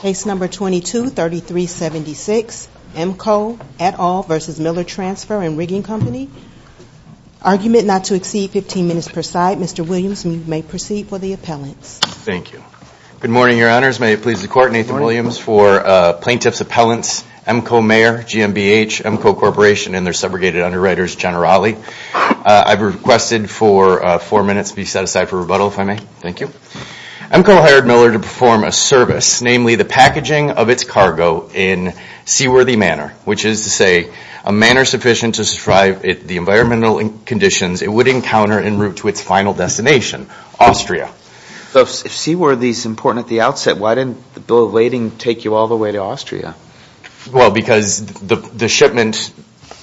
Case number 223376, Emco, et al. v. Miller Transfer and Rigging Company. Argument not to exceed 15 minutes per side. Mr. Williams, you may proceed for the appellants. Thank you. Good morning, your honors. May it please the court, Nathan Williams for plaintiff's appellants, Emco Mayor, GMBH, Emco Corporation, and their segregated underwriters, Generali. I've requested for four minutes be set aside for rebuttal, if I may. Thank you. Emco hired Miller to perform a service, namely the packaging of its cargo in seaworthy manner, which is to say a manner sufficient to survive the environmental conditions it would encounter en route to its final destination, Austria. If seaworthy is important at the outset, why didn't the bill of lading take you all the way to Austria? Well because the shipment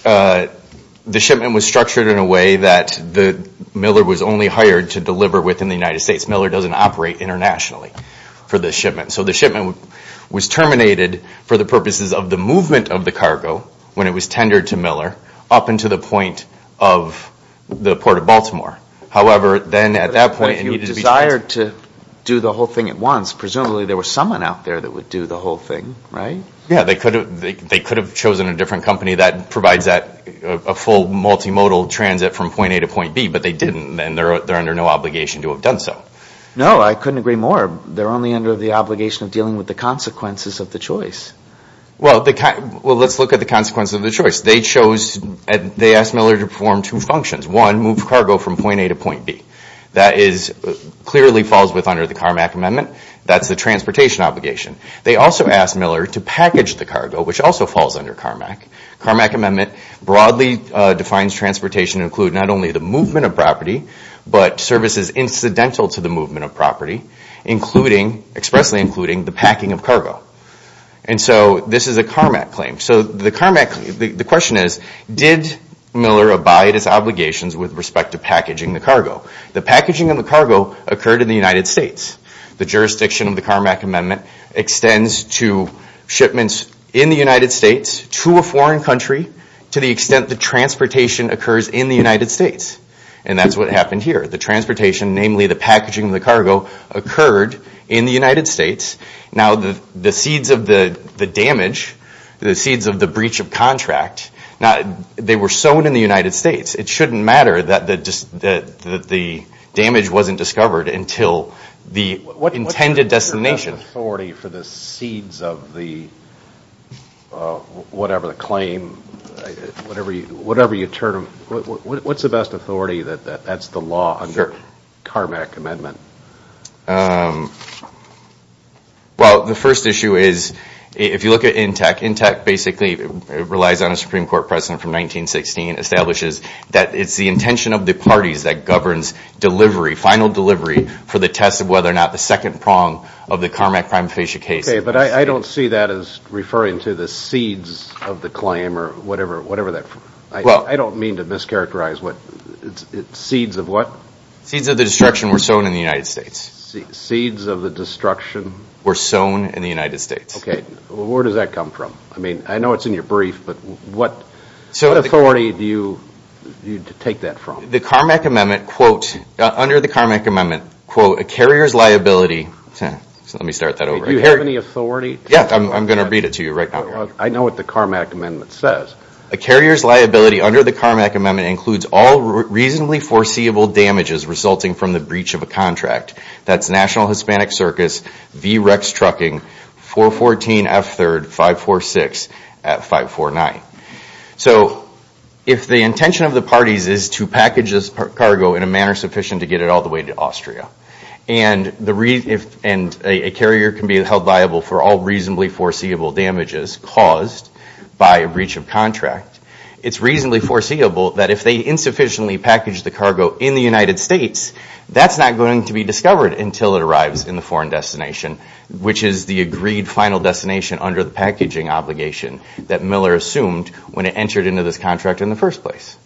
was structured in a way that Miller was only hired to deliver within the United States. Miller doesn't operate internationally for the shipment. So the shipment was terminated for the purposes of the movement of the cargo when it was tendered to Miller up into the point of the Port of Baltimore. However, then at that point, it needed to be transferred. But if you desired to do the whole thing at once, presumably there was someone out there that would do the whole thing, right? Yeah, they could have chosen a different company that provides that full multimodal transit from point A to point B, but they didn't and they're under no obligation to have done so. No, I couldn't agree more. They're only under the obligation of dealing with the consequences of the choice. Well, let's look at the consequences of the choice. They asked Miller to perform two functions. One, move cargo from point A to point B. That clearly falls under the Carmack Amendment. That's the transportation obligation. They also asked Miller to package the cargo, which also falls under Carmack. Carmack Amendment broadly defines transportation to include not only the movement of property, but services incidental to the movement of property, expressly including the packing of cargo. This is a Carmack claim. The question is, did Miller abide his obligations with respect to packaging the cargo? The packaging of the cargo occurred in the United States. The jurisdiction of the Carmack Amendment extends to shipments in the United States to a foreign country to the extent that transportation occurs in the United States. That's what happened here. The transportation, namely the packaging of the cargo, occurred in the United States. The seeds of the damage, the seeds of the breach of contract, they were sown in the United States. It shouldn't matter that the damage wasn't discovered until the intended destination. What's the best authority for the seeds of the claim? What's the best authority that that's the law under Carmack Amendment? The first issue is, if you look at INTEC, INTEC basically relies on a Supreme Court precedent from 1916, establishes that it's the intention of the parties that governs delivery, final delivery, for the test of whether or not the second prong of the Carmack crime of fascia case... Okay, but I don't see that as referring to the seeds of the claim or whatever that... Well... I don't mean to mischaracterize what... Seeds of what? Seeds of the destruction were sown in the United States. Seeds of the destruction? Were sown in the United States. Okay. Where does that come from? I mean, I know it's in your brief, but what authority do you take that from? The Carmack Amendment, quote, under the Carmack Amendment, quote, a carrier's liability... Let me start that over. Do you have any authority? Yeah, I'm going to read it to you right now. I know what the Carmack Amendment says. A carrier's liability under the Carmack Amendment includes all reasonably foreseeable damages resulting from the breach of a contract. That's National Hispanic Circus, V-Rex Trucking, 414 F3rd, 546 at 549. So if the intention of the parties is to package this cargo in a manner sufficient to get it all the way to Austria, and a carrier can be held liable for all reasonably foreseeable damages caused by a breach of contract, it's reasonably foreseeable that if they insufficiently package this cargo in the United States, that's not going to be discovered until it arrives in the foreign destination, which is the agreed final destination under the packaging obligation that Miller assumed when it entered into this contract in the first place.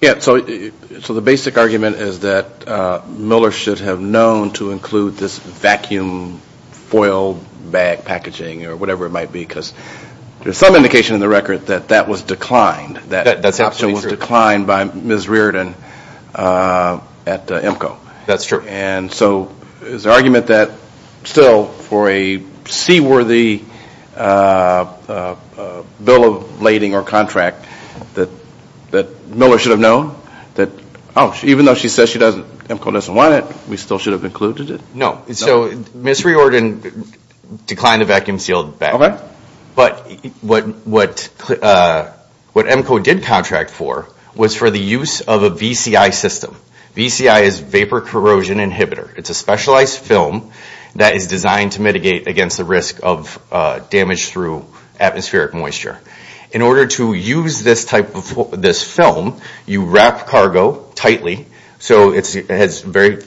Yeah. So the basic argument is that Miller should have known to include this vacuum foil bag packaging or whatever it might be, because there's some indication in the record that that was declined. That's absolutely true. It was declined by Ms. Riordan at EMCO. That's true. And so is the argument that still for a C worthy bill of lading or contract that Miller should have known that, oh, even though she says EMCO doesn't want it, we still should have included it? No. So Ms. Riordan declined the vacuum sealed bag. But what EMCO did contract for was for the use of a VCI system. VCI is vapor corrosion inhibitor. It's a specialized film that is designed to mitigate against the risk of damage through atmospheric moisture. In order to use this type of film, you wrap cargo tightly so it has very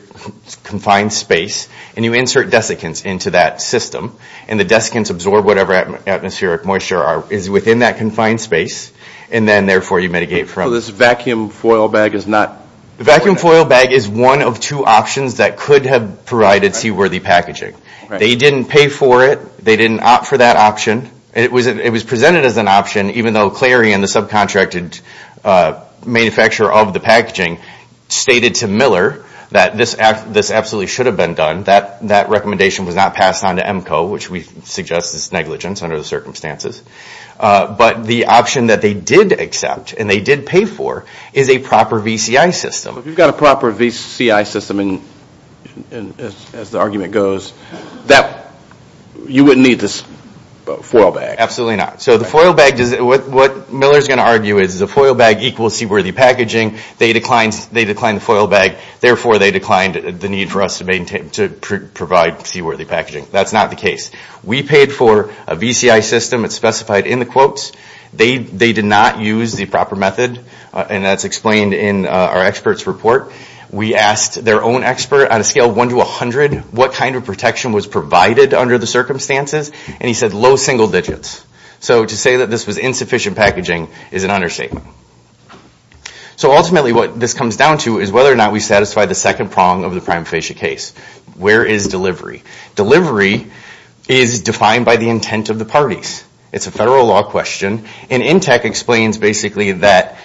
confined space and you insert desiccants into that system. And the desiccants absorb whatever atmospheric moisture is within that confined space. And then therefore you mitigate from it. So this vacuum foil bag is not? Vacuum foil bag is one of two options that could have provided C worthy packaging. They didn't pay for it. They didn't opt for that option. It was presented as an option, even though Clary and the subcontracted manufacturer of the packaging stated to Miller that this absolutely should have been done. That recommendation was not passed on to EMCO, which we suggest is negligence under the circumstances. But the option that they did accept and they did pay for is a proper VCI system. If you've got a proper VCI system, as the argument goes, you wouldn't need this foil bag. Absolutely not. So the foil bag, what Miller is going to argue is the foil bag equals C worthy packaging. They declined the foil bag, therefore they declined the need for us to provide C worthy packaging. That's not the case. We paid for a VCI system, it's specified in the quotes. They did not use the proper method and that's explained in our expert's report. We asked their own expert on a scale of 1 to 100 what kind of protection was provided under the circumstances. And he said low single digits. So to say that this was insufficient packaging is an understatement. So ultimately what this comes down to is whether or not we satisfy the second prong of the prime facie case. Where is delivery? Delivery is defined by the intent of the parties. It's a federal law question and INTEC explains basically that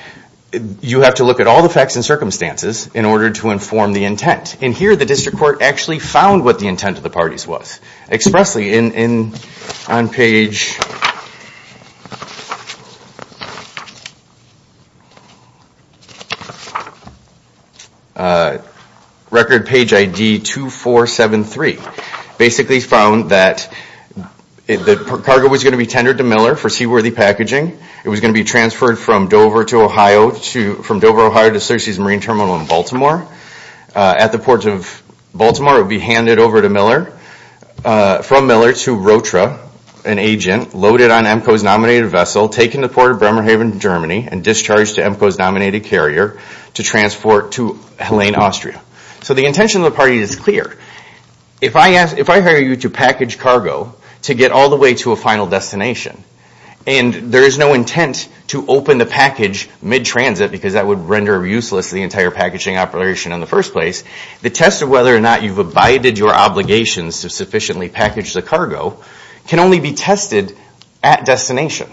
you have to look at all the facts and circumstances in order to inform the intent. And here the district court actually found what the intent of the parties was expressly in on page record page ID 2473. Basically found that the cargo was going to be tendered to Miller for C worthy packaging. It was going to be transferred from Dover to Ohio, from Dover, Ohio to Searcy's Marine Terminal in Baltimore. At the port of Baltimore it would be handed over to Miller, from Miller to Rotra, an agent, loaded on EMCO's nominated vessel, taken to the port of Bremerhaven, Germany and discharged to EMCO's nominated carrier to transport to Helene, Austria. So the intention of the party is clear. If I hire you to package cargo to get all the way to a final destination and there is no intent to open the package mid-transit because that would render useless the entire packaging operation in the first place, the test of whether or not you've abided your obligations to sufficiently package the cargo can only be tested at destination.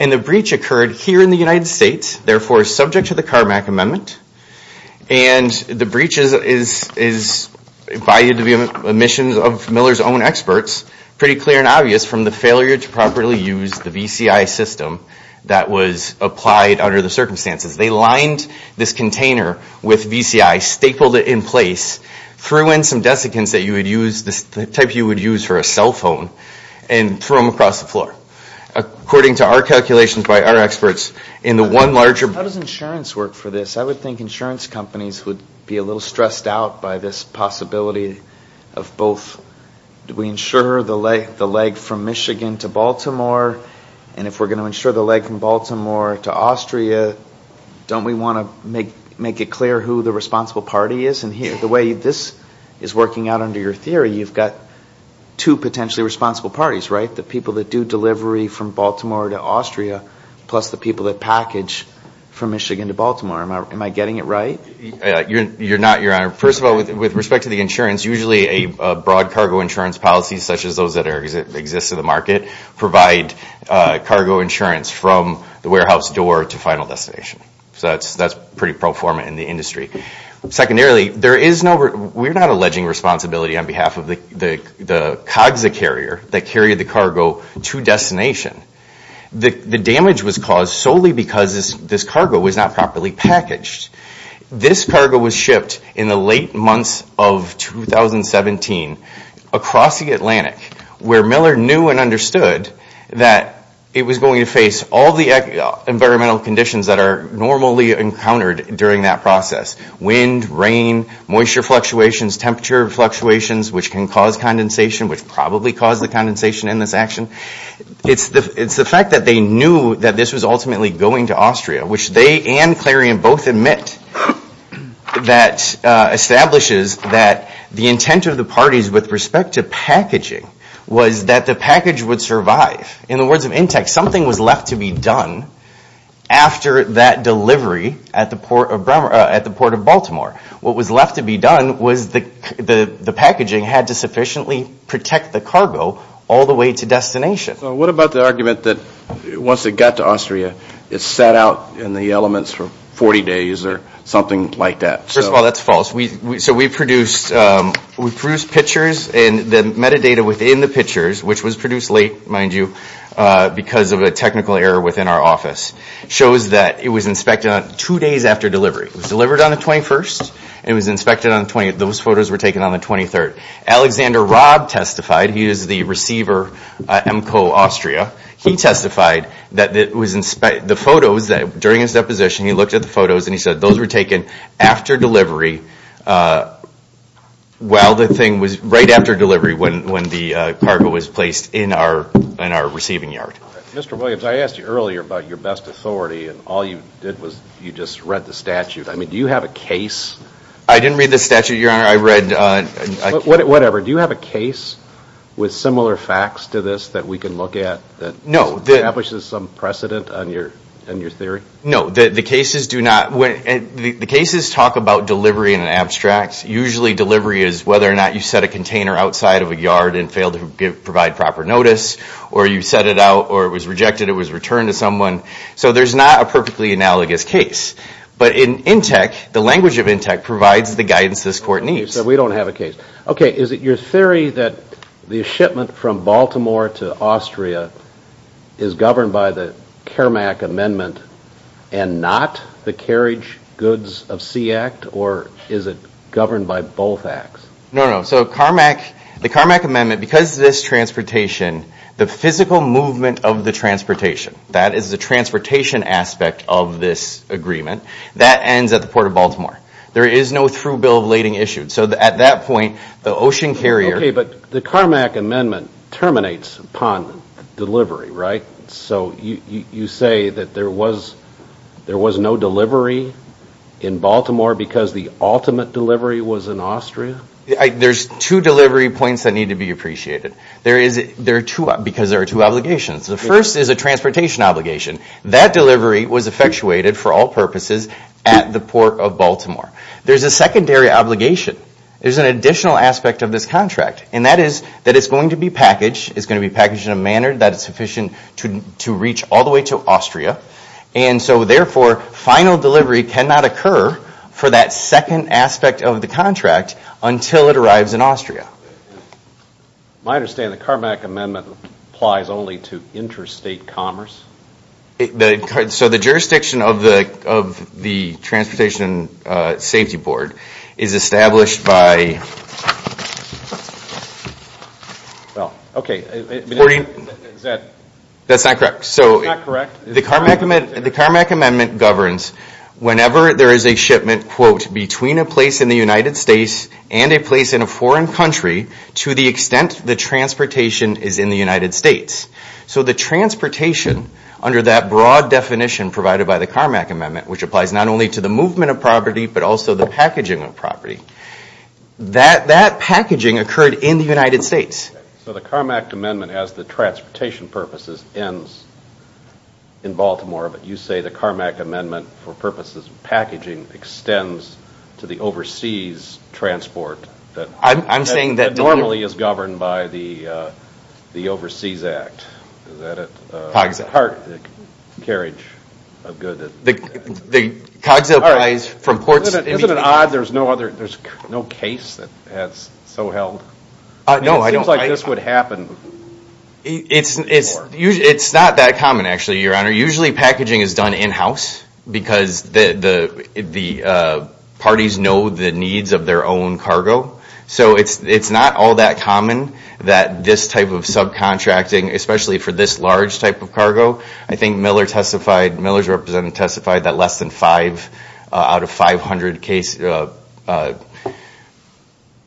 And the breach occurred here in the United States, therefore subject to the Carmack Amendment. And the breach is valued to be omissions of Miller's own experts, pretty clear and obvious from the failure to properly use the VCI system that was applied under the circumstances. They lined this container with VCI, stapled it in place, threw in some desiccants that you would use, the type you would use for a cell phone, and threw them across the floor. According to our calculations by our experts, in the one larger- How does insurance work for this? I would think insurance companies would be a little stressed out by this possibility of both, do we insure the leg from Michigan to Baltimore, and if we're going to insure the leg from Baltimore to Austria, don't we want to make it clear who the responsible party is? And the way this is working out under your theory, you've got two potentially responsible parties, right? The people that do delivery from Baltimore to Austria, plus the people that package from Michigan to Baltimore. Am I getting it right? You're not, Your Honor. First of all, with respect to the insurance, usually a broad cargo insurance policy, such as those that exist in the market, provide cargo insurance from the warehouse door to final destination. So that's pretty pro forma in the industry. Secondarily, we're not alleging responsibility on behalf of the COGSA carrier that carried the cargo to destination. The damage was caused solely because this cargo was not properly packaged. This cargo was shipped in the late months of 2017 across the Atlantic, where Miller knew and understood that it was going to face all the environmental conditions that are normally encountered during that process, wind, rain, moisture fluctuations, temperature fluctuations, which can cause condensation, which probably caused the condensation in this action. It's the fact that they knew that this was ultimately going to Austria, which they and it, that establishes that the intent of the parties with respect to packaging was that the package would survive. In the words of Intex, something was left to be done after that delivery at the port of Baltimore. What was left to be done was the packaging had to sufficiently protect the cargo all the way to destination. So what about the argument that once it got to Austria, it sat out in the elements for 40 days or something like that? First of all, that's false. So we produced pictures and the metadata within the pictures, which was produced late, mind you, because of a technical error within our office, shows that it was inspected on two days after delivery. It was delivered on the 21st and it was inspected on the 20th. Those photos were taken on the 23rd. Alexander Robb testified, he is the receiver at EMCO Austria. He testified that the photos, during his deposition, he looked at the photos and he said those were taken after delivery, right after delivery when the cargo was placed in our receiving yard. Mr. Williams, I asked you earlier about your best authority and all you did was you just read the statute. I mean, do you have a case? I didn't read the statute, Your Honor. I read... Whatever. Do you have a case with similar facts to this that we can look at that establishes some precedent in your theory? No. The cases do not... The cases talk about delivery in an abstract. Usually delivery is whether or not you set a container outside of a yard and failed to provide proper notice, or you set it out or it was rejected, it was returned to someone. So there's not a perfectly analogous case. But in INTEC, the language of INTEC provides the guidance this court needs. So we don't have a case. Okay. Is it your theory that the shipment from Baltimore to Austria is governed by the Carmack Amendment and not the Carriage Goods of Sea Act, or is it governed by both acts? No, no. So Carmack... The Carmack Amendment, because this transportation, the physical movement of the transportation, that is the transportation aspect of this agreement, that ends at the Port of Baltimore. There is no through bill of lading issued. So at that point, the ocean carrier... Okay. But the Carmack Amendment terminates upon delivery, right? So you say that there was no delivery in Baltimore because the ultimate delivery was in Austria? There's two delivery points that need to be appreciated, because there are two obligations. The first is a transportation obligation. There's a secondary obligation. There's an additional aspect of this contract, and that is that it's going to be packaged. It's going to be packaged in a manner that is sufficient to reach all the way to Austria. And so therefore, final delivery cannot occur for that second aspect of the contract until it arrives in Austria. I understand the Carmack Amendment applies only to interstate commerce? So the jurisdiction of the Transportation Safety Board is established by... Well, okay. That's not correct. It's not correct. The Carmack Amendment governs whenever there is a shipment, quote, between a place in the United States and a place in a foreign country to the extent the transportation is in the United States. So the transportation, under that broad definition provided by the Carmack Amendment, which applies not only to the movement of property, but also the packaging of property, that packaging occurred in the United States. So the Carmack Amendment has the transportation purposes ends in Baltimore, but you say the Carmack Amendment for purposes of packaging extends to the overseas transport that normally is governed by the Overseas Act. Is that it? Cogsail. Part of the carriage of goods that... The Cogsail applies from ports... Isn't it odd there's no case that has so held? No, I don't think so. It seems like this would happen before. It's not that common, actually, Your Honor. Usually packaging is done in-house because the parties know the needs of their own cargo. So it's not all that common that this type of subcontracting, especially for this large type of cargo. I think Miller's representative testified that less than five out of 500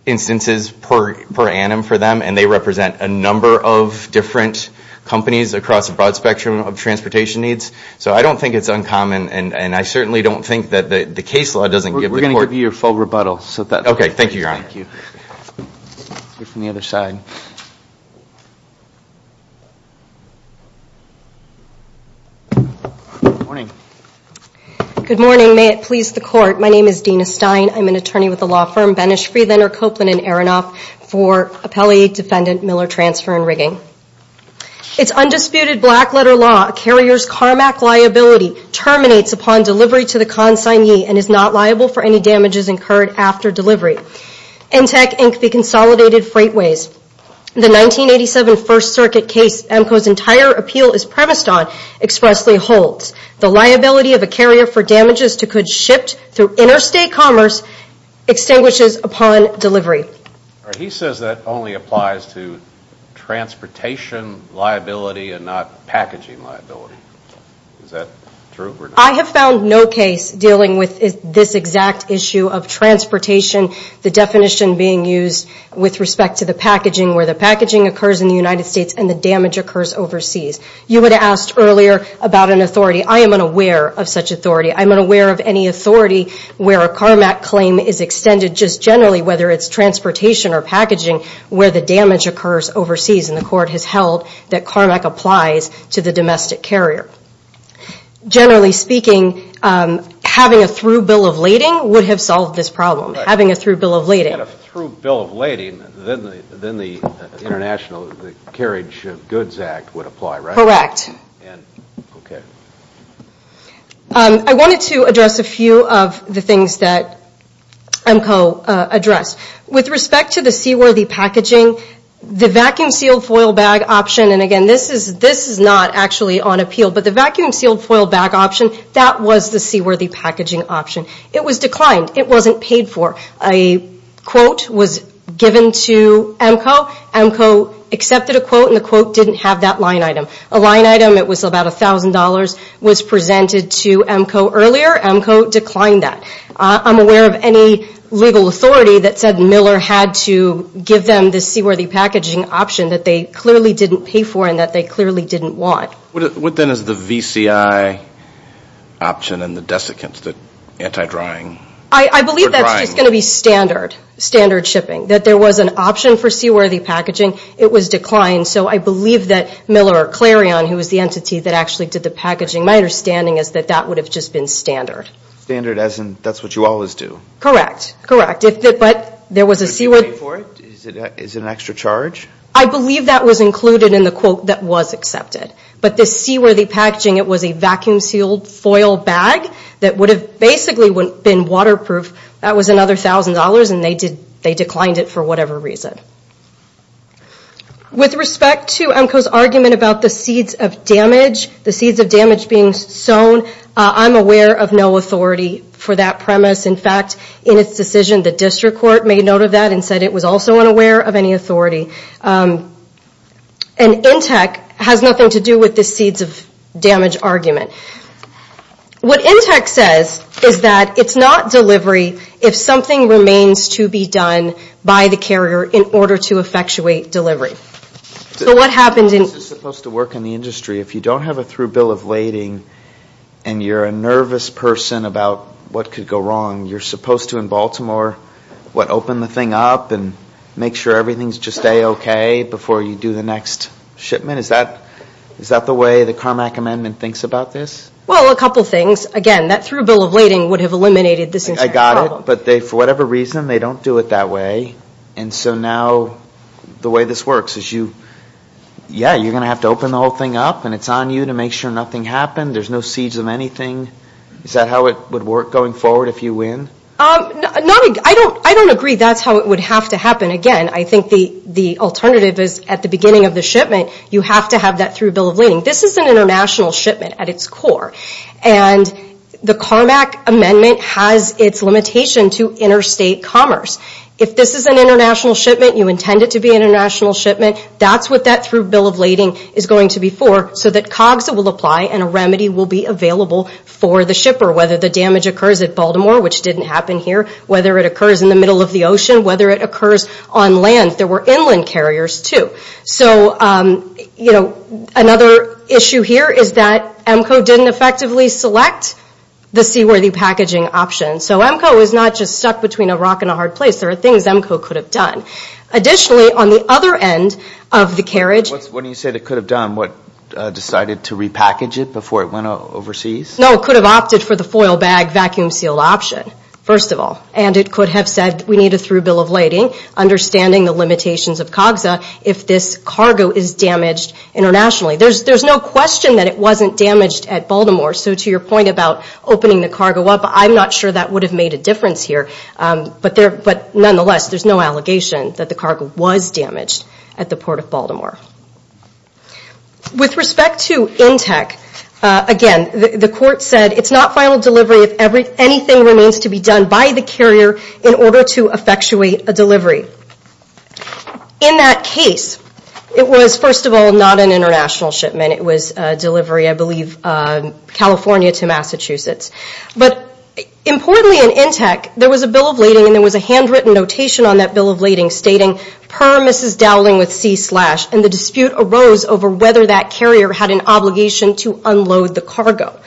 instances per annum for them, and they represent a number of different companies across a broad spectrum of transportation needs. So I don't think it's uncommon, and I certainly don't think that the case law doesn't give the court... We're going to give you your full rebuttal. Okay. Thank you, Your Honor. Thank you. You're from the other side. Good morning. Good morning. May it please the court. My name is Dina Stein. I'm an attorney with the law firm Benesch, Friedlander, Copeland, and Aronoff for appellee defendant Miller Transfer and Rigging. It's undisputed black-letter law. Carrier's CARMAC liability terminates upon delivery to the consignee and is not liable for any damages incurred after delivery. NTEC Inc. be consolidated freightways. The 1987 First Circuit case AMCO's entire appeal is premised on expressly holds. The liability of a carrier for damages to could shipped through interstate commerce extinguishes upon delivery. He says that only applies to transportation liability and not packaging liability. Is that true or not? I have found no case dealing with this exact issue of transportation, the definition being used with respect to the packaging, where the packaging occurs in the United States and the damage occurs overseas. You would have asked earlier about an authority. I am unaware of such authority. I'm unaware of any authority where a CARMAC claim is extended just generally, whether it's transportation or packaging, where the damage occurs overseas and the court has held that CARMAC applies to the domestic carrier. Generally speaking, having a through bill of lading would have solved this problem. Having a through bill of lading. If you had a through bill of lading, then the International Carriage of Goods Act would apply, right? Correct. Okay. I wanted to address a few of the things that AMCO addressed. With respect to the seaworthy packaging, the vacuum sealed foil bag option, and again, this is not actually on appeal, but the vacuum sealed foil bag option, that was the seaworthy packaging option. It was declined. It wasn't paid for. A quote was given to AMCO. AMCO accepted a quote and the quote didn't have that line item. A line item, it was about $1,000, was presented to AMCO earlier. AMCO declined that. I'm aware of any legal authority that said Miller had to give them the seaworthy packaging that they clearly didn't pay for and that they clearly didn't want. What then is the VCI option and the desiccants, the anti-drying? I believe that's just going to be standard. Standard shipping. That there was an option for seaworthy packaging. It was declined. I believe that Miller or Clarion, who was the entity that actually did the packaging, my understanding is that that would have just been standard. Standard as in that's what you always do? Correct. Correct. But there was a seaworthy... Is it an extra charge? I believe that was included in the quote that was accepted. But the seaworthy packaging, it was a vacuum sealed foil bag that would have basically been waterproof. That was another $1,000 and they declined it for whatever reason. With respect to AMCO's argument about the seeds of damage, the seeds of damage being sown, I'm aware of no authority for that premise. In fact, in its decision, the district court made note of that and said it was also unaware of any authority. And Intec has nothing to do with the seeds of damage argument. What Intec says is that it's not delivery if something remains to be done by the carrier in order to effectuate delivery. So what happened in... This is supposed to work in the industry. If you don't have a through bill of lading and you're a nervous person about what could go wrong, you're supposed to, in Baltimore, open the thing up and make sure everything is just A-OK before you do the next shipment? Is that the way the Carmack Amendment thinks about this? Well, a couple things. Again, that through bill of lading would have eliminated this entire problem. I got it. But for whatever reason, they don't do it that way. And so now the way this works is you... Yeah, you're going to have to open the whole thing up and it's on you to make sure nothing happened. There's no seeds of anything. Is that how it would work going forward if you win? I don't agree that's how it would have to happen. Again, I think the alternative is, at the beginning of the shipment, you have to have that through bill of lading. This is an international shipment at its core. And the Carmack Amendment has its limitation to interstate commerce. If this is an international shipment, you intend it to be an international shipment, that's what that through bill of lading is going to be for, so that COGSA will apply and a remedy will be available for the shipper, whether the damage occurs at Baltimore, which didn't happen here, whether it occurs in the middle of the ocean, whether it occurs on land. There were inland carriers, too. So, you know, another issue here is that EMCO didn't effectively select the seaworthy packaging option. So EMCO is not just stuck between a rock and a hard place. There are things EMCO could have done. Additionally, on the other end of the carriage... No, it could have opted for the foil bag, vacuum sealed option, first of all. And it could have said, we need a through bill of lading, understanding the limitations of COGSA, if this cargo is damaged internationally. There's no question that it wasn't damaged at Baltimore, so to your point about opening the cargo up, I'm not sure that would have made a difference here. But nonetheless, there's no allegation that the cargo was damaged at the Port of Baltimore. With respect to INTEC, again, the court said it's not final delivery if anything remains to be done by the carrier in order to effectuate a delivery. In that case, it was, first of all, not an international shipment. It was a delivery, I believe, California to Massachusetts. But importantly in INTEC, there was a bill of lading and there was a handwritten notation on that bill of lading stating, per Mrs. Dowling with C-slash, and the dispute arose over whether that carrier had an obligation to unload the cargo.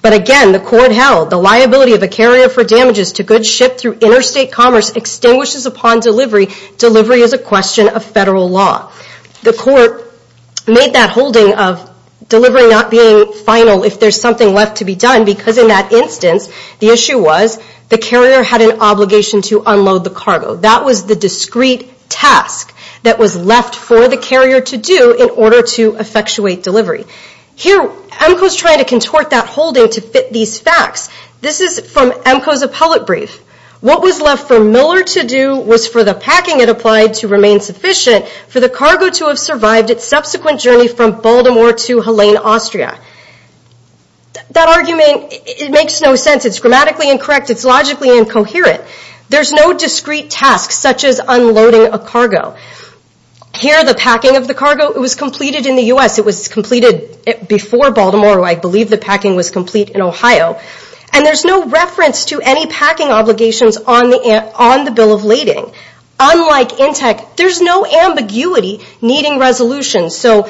But again, the court held, the liability of a carrier for damages to good ship through interstate commerce extinguishes upon delivery. Delivery is a question of federal law. The court made that holding of delivery not being final if there's something left to be done, because in that instance, the issue was, the carrier had an obligation to unload the cargo. That was the discrete task that was left for the carrier to do in order to effectuate delivery. Here, EMCO's trying to contort that holding to fit these facts. This is from EMCO's appellate brief. What was left for Miller to do was for the packing it applied to remain sufficient for the cargo to have survived its subsequent journey from Baltimore to Helene, Austria. That argument, it makes no sense. It's grammatically incorrect. It's logically incoherent. There's no discrete task such as unloading a cargo. Here, the packing of the cargo, it was completed in the U.S. It was completed before Baltimore. I believe the packing was complete in Ohio. And there's no reference to any packing obligations on the Bill of Lading. Unlike INTEC, there's no ambiguity needing resolution. So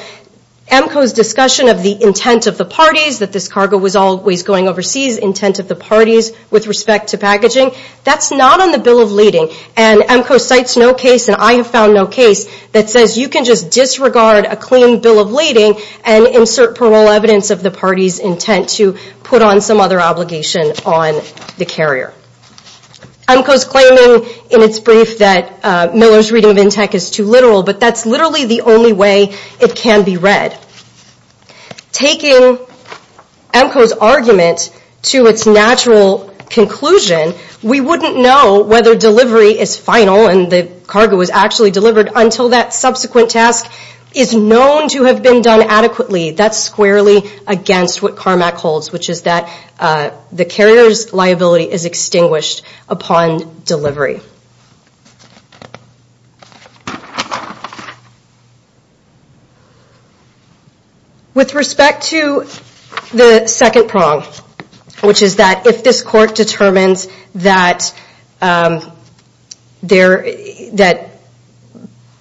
EMCO's discussion of the intent of the parties, that this cargo was always going overseas, intent of the parties with respect to packaging, that's not on the Bill of Lading. And EMCO cites no case, and I have found no case, that says you can just disregard a clean Bill of Lading and insert parole evidence of the party's intent to put on some other obligation on the carrier. EMCO's claiming in its brief that Miller's reading of INTEC is too literal, but that's literally the only way it can be read. Taking EMCO's argument to its natural conclusion, we wouldn't know whether delivery is final and the cargo is actually delivered until that subsequent task is known to have been done adequately. That's squarely against what CARMAC holds, which is that the carrier's liability is extinguished upon delivery. With respect to the second prong, which is that if this court determines that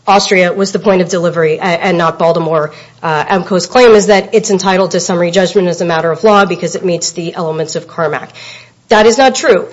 Austria was the point of delivery and not Baltimore, EMCO's claim is that it's entitled to summary judgment as a matter of law because it meets the elements of CARMAC. That is not true.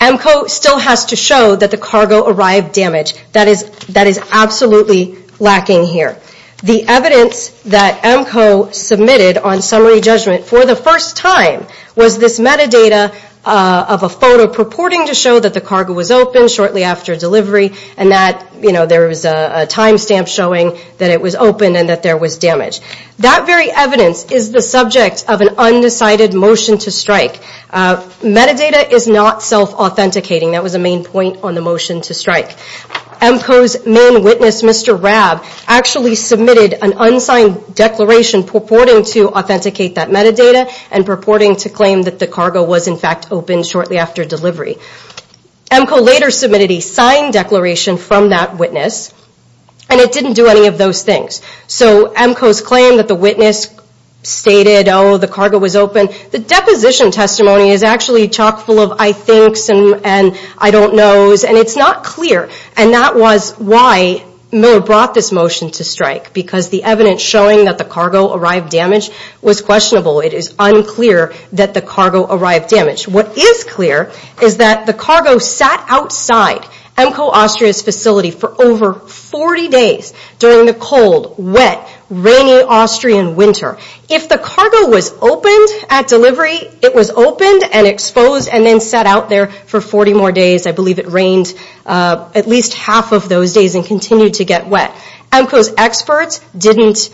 EMCO still has to show that the cargo arrived damaged. That is absolutely lacking here. The evidence that EMCO submitted on summary judgment for the first time was this metadata of a photo purporting to show that the cargo was open shortly after delivery and that there was a time stamp showing that it was open and that there was damage. That very evidence is the subject of an undecided motion to strike. Metadata is not self-authenticating. That was a main point on the motion to strike. EMCO's main witness, Mr. Rab, actually submitted an unsigned declaration purporting to authenticate that metadata and purporting to claim that the cargo was in fact open shortly after delivery. EMCO later submitted a signed declaration from that witness and it didn't do any of those things. So EMCO's claim that the witness stated, oh, the cargo was open, the deposition testimony is actually chock full of I thinks and I don't knows and it's not clear and that was why Miller brought this motion to strike because the evidence showing that the cargo arrived damaged was questionable. It is unclear that the cargo arrived damaged. What is clear is that the cargo sat outside EMCO Austria's facility for over 40 days during the cold, wet, rainy Austrian winter. If the cargo was opened at delivery, it was opened and exposed and then sat out there for 40 more days. I believe it rained at least half of those days and continued to get wet. EMCO's experts didn't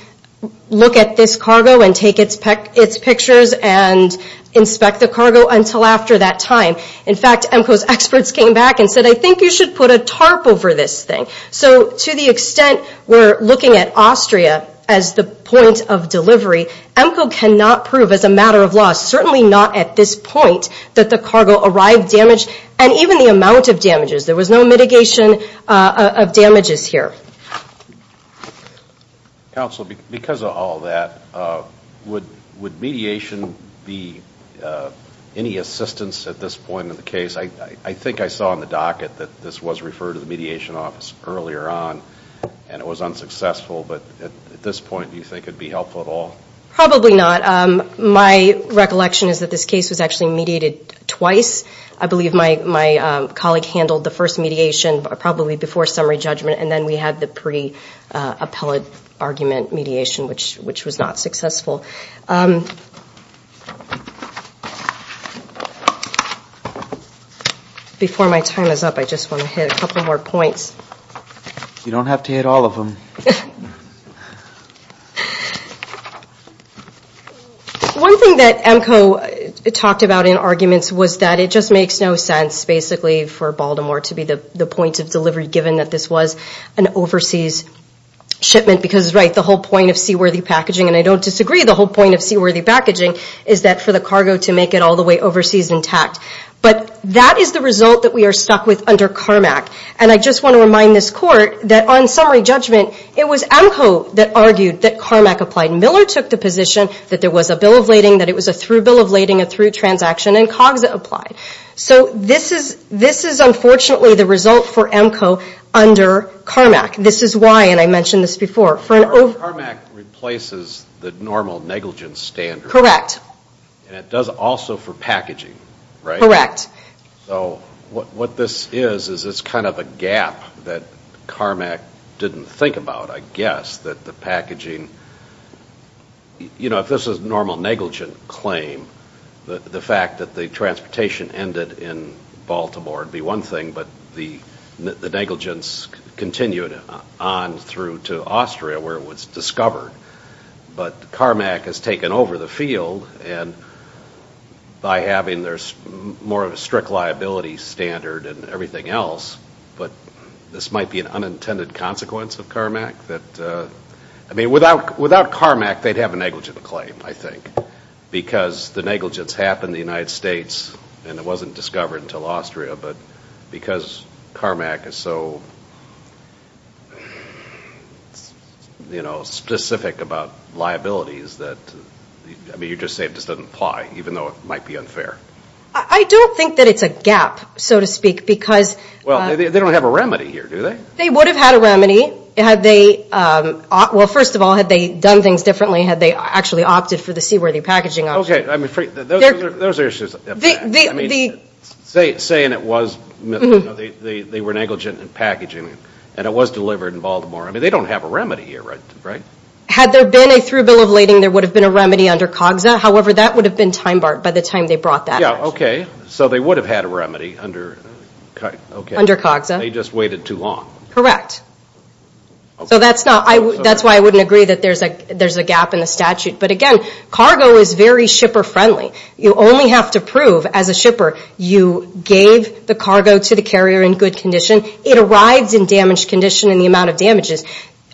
look at this cargo and take its pictures and inspect the cargo until after that time. In fact, EMCO's experts came back and said, I think you should put a tarp over this thing. So to the extent we're looking at Austria as the point of delivery, EMCO cannot prove as a matter of law, certainly not at this point, that the cargo arrived damaged and even the amount of damages. There was no mitigation of damages here. Counsel, because of all that, would mediation be any assistance at this point in the case? I think I saw on the docket that this was referred to the mediation office earlier on and it was unsuccessful but at this point do you think it would be helpful at all? Probably not. My recollection is that this case was actually mediated twice. I believe my colleague handled the first mediation probably before summary judgment and then we had the pre-appellate argument mediation which was not successful. Before my time is up, I just want to hit a couple more points. You don't have to hit all of them. One thing that EMCO talked about in arguments was that it just makes no sense basically for Baltimore to be the point of delivery given that this was an overseas shipment because the whole point of seaworthy packaging, and I don't disagree the whole point of seaworthy packaging, is that for the cargo to make it all the way overseas intact. But that is the result that we are stuck with under CARMAC. And I just want to remind this Court that on summary judgment, it was EMCO that argued that CARMAC applied. Miller took the position that there was a bill of lading, that it was a through bill of lading, a through transaction, and COGS applied. So this is unfortunately the result for EMCO under CARMAC. This is why, and I mentioned this before. CARMAC replaces the normal negligence standard. Correct. And it does also for packaging, right? Correct. So what this is is it's kind of a gap that CARMAC didn't think about, I guess, that the packaging, you know, if this was a normal negligent claim, the fact that the transportation ended in Baltimore would be one thing, but the negligence continued on through to Austria where it was discovered. But CARMAC has taken over the field, and by having more of a strict liability standard and everything else, but this might be an unintended consequence of CARMAC that, I mean, without CARMAC, they'd have a negligent claim, I think, because the negligence happened in the United States and it wasn't discovered until Austria, but because CARMAC is so, you know, specific about liabilities that, I mean, you're just saying it doesn't apply even though it might be unfair. I don't think that it's a gap, so to speak, because Well, they don't have a remedy here, do they? They would have had a remedy had they, well, first of all, had they done things differently, had they actually opted for the C-worthy packaging option. Okay, I'm afraid those are issues. I mean, saying it was, you know, they were negligent in packaging and it was delivered in Baltimore. I mean, they don't have a remedy here, right? Had there been a through bill of lading, there would have been a remedy under COGSA. However, that would have been time-barred by the time they brought that. Yeah, okay, so they would have had a remedy under COGSA. They just waited too long. Correct. So that's not, that's why I wouldn't agree that there's a gap in the statute. But again, cargo is very shipper-friendly. You only have to prove, as a shipper, you gave the cargo to the carrier in good condition. It arrives in damaged condition in the amount of damages.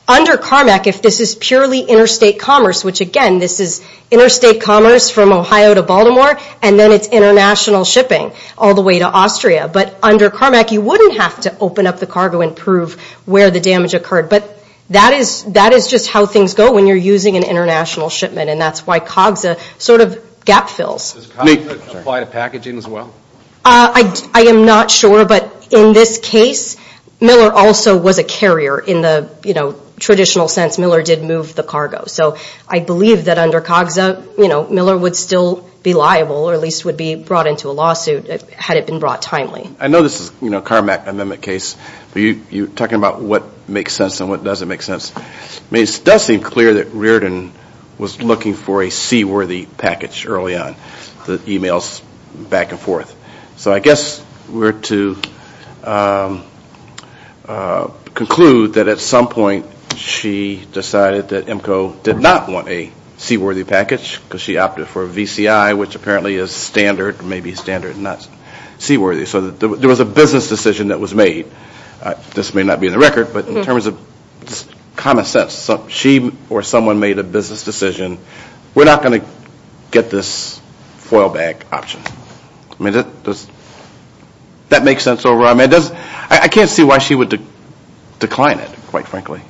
Under CARMAC, if this is purely interstate commerce, which again, this is interstate commerce from Ohio to Baltimore, and then it's international shipping all the way to Austria. But under CARMAC, you wouldn't have to open up the cargo and prove where the damage occurred. But that is just how things go when you're using an international shipment and that's why COGSA sort of gap fills. Does COGSA apply to packaging as well? I am not sure. But in this case, Miller also was a carrier in the traditional sense. Miller did move the cargo. So I believe that under COGSA, Miller would still be liable or at least would be brought into a lawsuit had it been brought timely. I know this is a CARMAC amendment case, but you're talking about what makes sense and what doesn't make sense. It does seem clear that Riordan was looking for a C-worthy package early on, the emails back and forth. So I guess we're to conclude that at some point, she decided that EMCO did not want a C-worthy package because she opted for a VCI, which apparently is standard, maybe standard and not C-worthy. So there was a business decision that was made. This may not be in the record, but in terms of common sense, she or someone made a business decision. We're not going to get this foil bag option. Does that make sense? I can't see why she would decline it, quite frankly.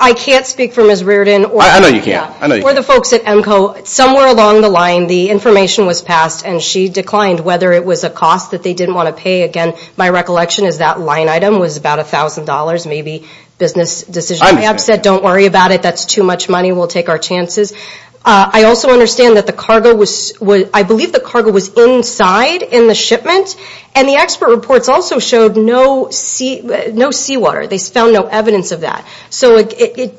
I can't speak for Ms. Riordan. I know you can't. For the folks at EMCO, somewhere along the line, the information was passed and she declined, whether it was a cost that they didn't want to pay. Again, my recollection is that line item was about $1,000, maybe business decision. I'm upset. Don't worry about it. That's too much money. We'll take our chances. I also understand that the cargo was, I believe the cargo was inside in the shipment, and the expert reports also showed no seawater. They found no evidence of that. It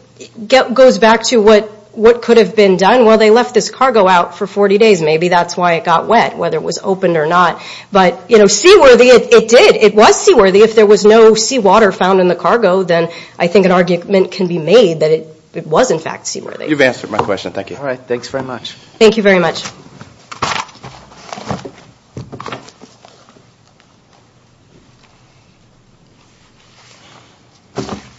goes back to what could have been done. Well, they left this cargo out for 40 days. Maybe that's why it got wet, whether it was opened or not. But seaworthy, it did. It was seaworthy. If there was no seawater found in the cargo, then I think an argument can be made that it was, in fact, seaworthy. You've answered my question. Thank you. All right. Thanks very much. Thank you very much.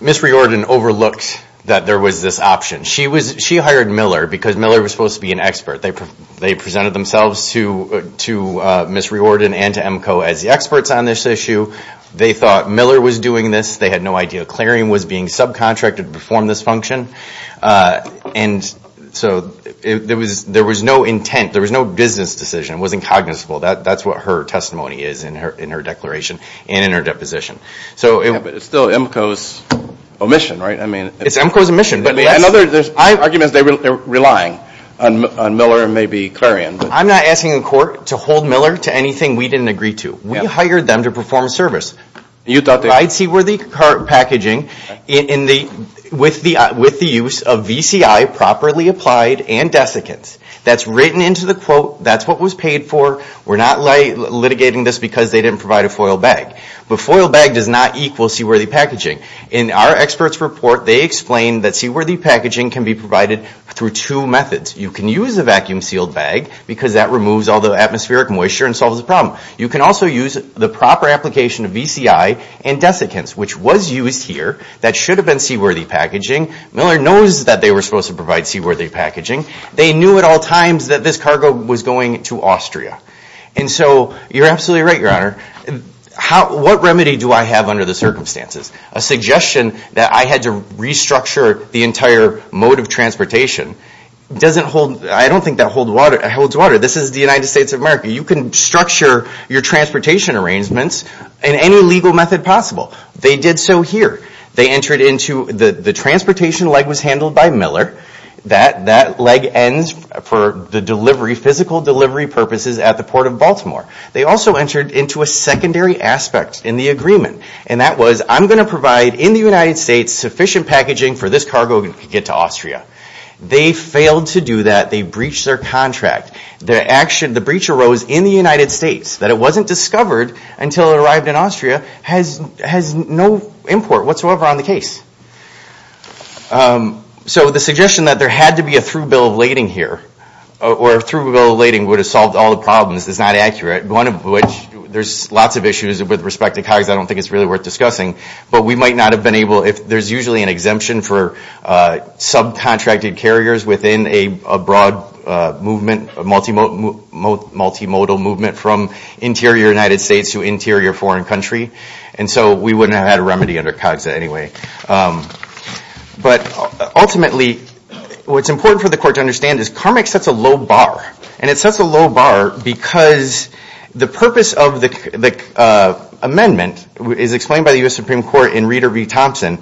Ms. Riordan overlooked that there was this option. She hired Miller because Miller was supposed to be an expert. They presented themselves to Ms. Riordan and to EMCO as the experts on this issue. They thought Miller was doing this. They had no idea Clarion was being subcontracted It was just a matter of, there was no business decision. It wasn't cognizable. That's what her testimony is in her declaration and in her deposition. But it's still EMCO's omission, right? It's EMCO's omission. There's arguments they're relying on Miller and maybe Clarion. I'm not asking the court to hold Miller to anything we didn't agree to. We hired them to perform a service. I'd seaworthy cart packaging with the use of VCI, properly applied, and desiccants. That's written into the quote. That's what was paid for. We're not litigating this because they didn't provide a foil bag. But foil bag does not equal seaworthy packaging. In our experts' report, they explain that seaworthy packaging can be provided through two methods. You can use a vacuum-sealed bag because that removes all the atmospheric moisture and solves the problem. You can also use the proper application of VCI and desiccants, which was used here. That should have been seaworthy packaging. Miller knows that they were supposed to provide seaworthy packaging. They knew at all times that this cargo was going to Austria. And so you're absolutely right, Your Honor. What remedy do I have under the circumstances? A suggestion that I had to restructure the entire mode of transportation doesn't hold. I don't think that holds water. This is the United States of America. You can structure your transportation arrangements in any legal method possible. They did so here. The transportation leg was handled by Miller. That leg ends for the physical delivery purposes at the Port of Baltimore. They also entered into a secondary aspect in the agreement, and that was, I'm going to provide in the United States sufficient packaging for this cargo to get to Austria. They failed to do that. They breached their contract. The breach arose in the United States, that it wasn't discovered until it arrived in Austria, has no import whatsoever on the case. So the suggestion that there had to be a through bill of lading here or a through bill of lading would have solved all the problems is not accurate, one of which there's lots of issues with respect to cargo that I don't think it's really worth discussing. But we might not have been able, there's usually an exemption for subcontracted carriers within a broad movement, a multimodal movement from interior United States to interior foreign country. And so we wouldn't have had a remedy under COGSA anyway. But ultimately, what's important for the court to understand is CARMEC sets a low bar. And it sets a low bar because the purpose of the amendment is explained by the U.S. Supreme Court in Reader v. Thompson.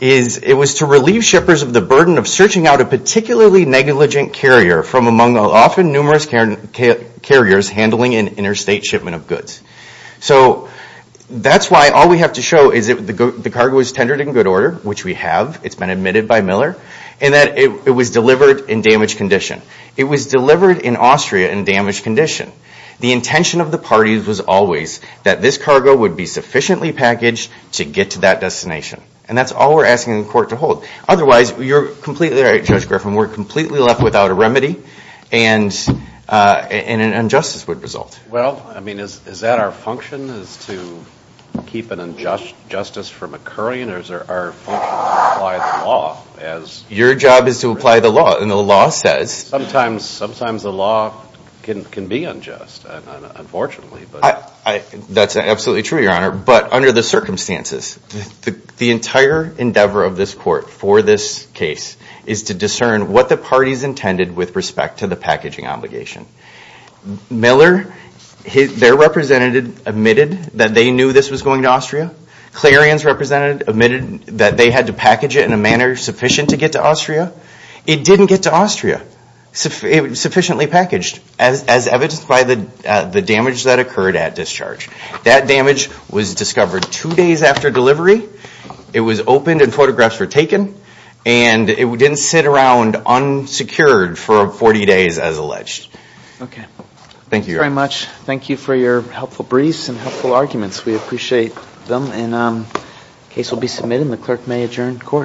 It was to relieve shippers of the burden of searching out a particularly negligent carrier from among the often numerous carriers handling an interstate shipment of goods. So that's why all we have to show is that the cargo is tendered in good order, which we have, it's been admitted by Miller, and that it was delivered in damaged condition. It was delivered in Austria in damaged condition. The intention of the parties was always that this cargo would be sufficiently packaged to get to that destination. And that's all we're asking the court to hold. Otherwise, you're completely right, Judge Griffin, we're completely left without a remedy, and an injustice would result. Well, I mean, is that our function is to keep an injustice from occurring, or is our function to apply the law? Your job is to apply the law, and the law says. Sometimes the law can be unjust, unfortunately. That's absolutely true, Your Honor. But under the circumstances, the entire endeavor of this court for this case is to discern what the parties intended with respect to the packaging obligation. Miller, their representative admitted that they knew this was going to Austria. Clarion's representative admitted that they had to package it in a manner sufficient to get to Austria. It didn't get to Austria, sufficiently packaged, as evidenced by the damage that occurred at discharge. That damage was discovered two days after delivery. It was opened and photographs were taken, and it didn't sit around unsecured for 40 days as alleged. Okay. Thank you, Your Honor. Thank you very much. Thank you for your helpful briefs and helpful arguments. We appreciate them. The case will be submitted, and the clerk may adjourn the court.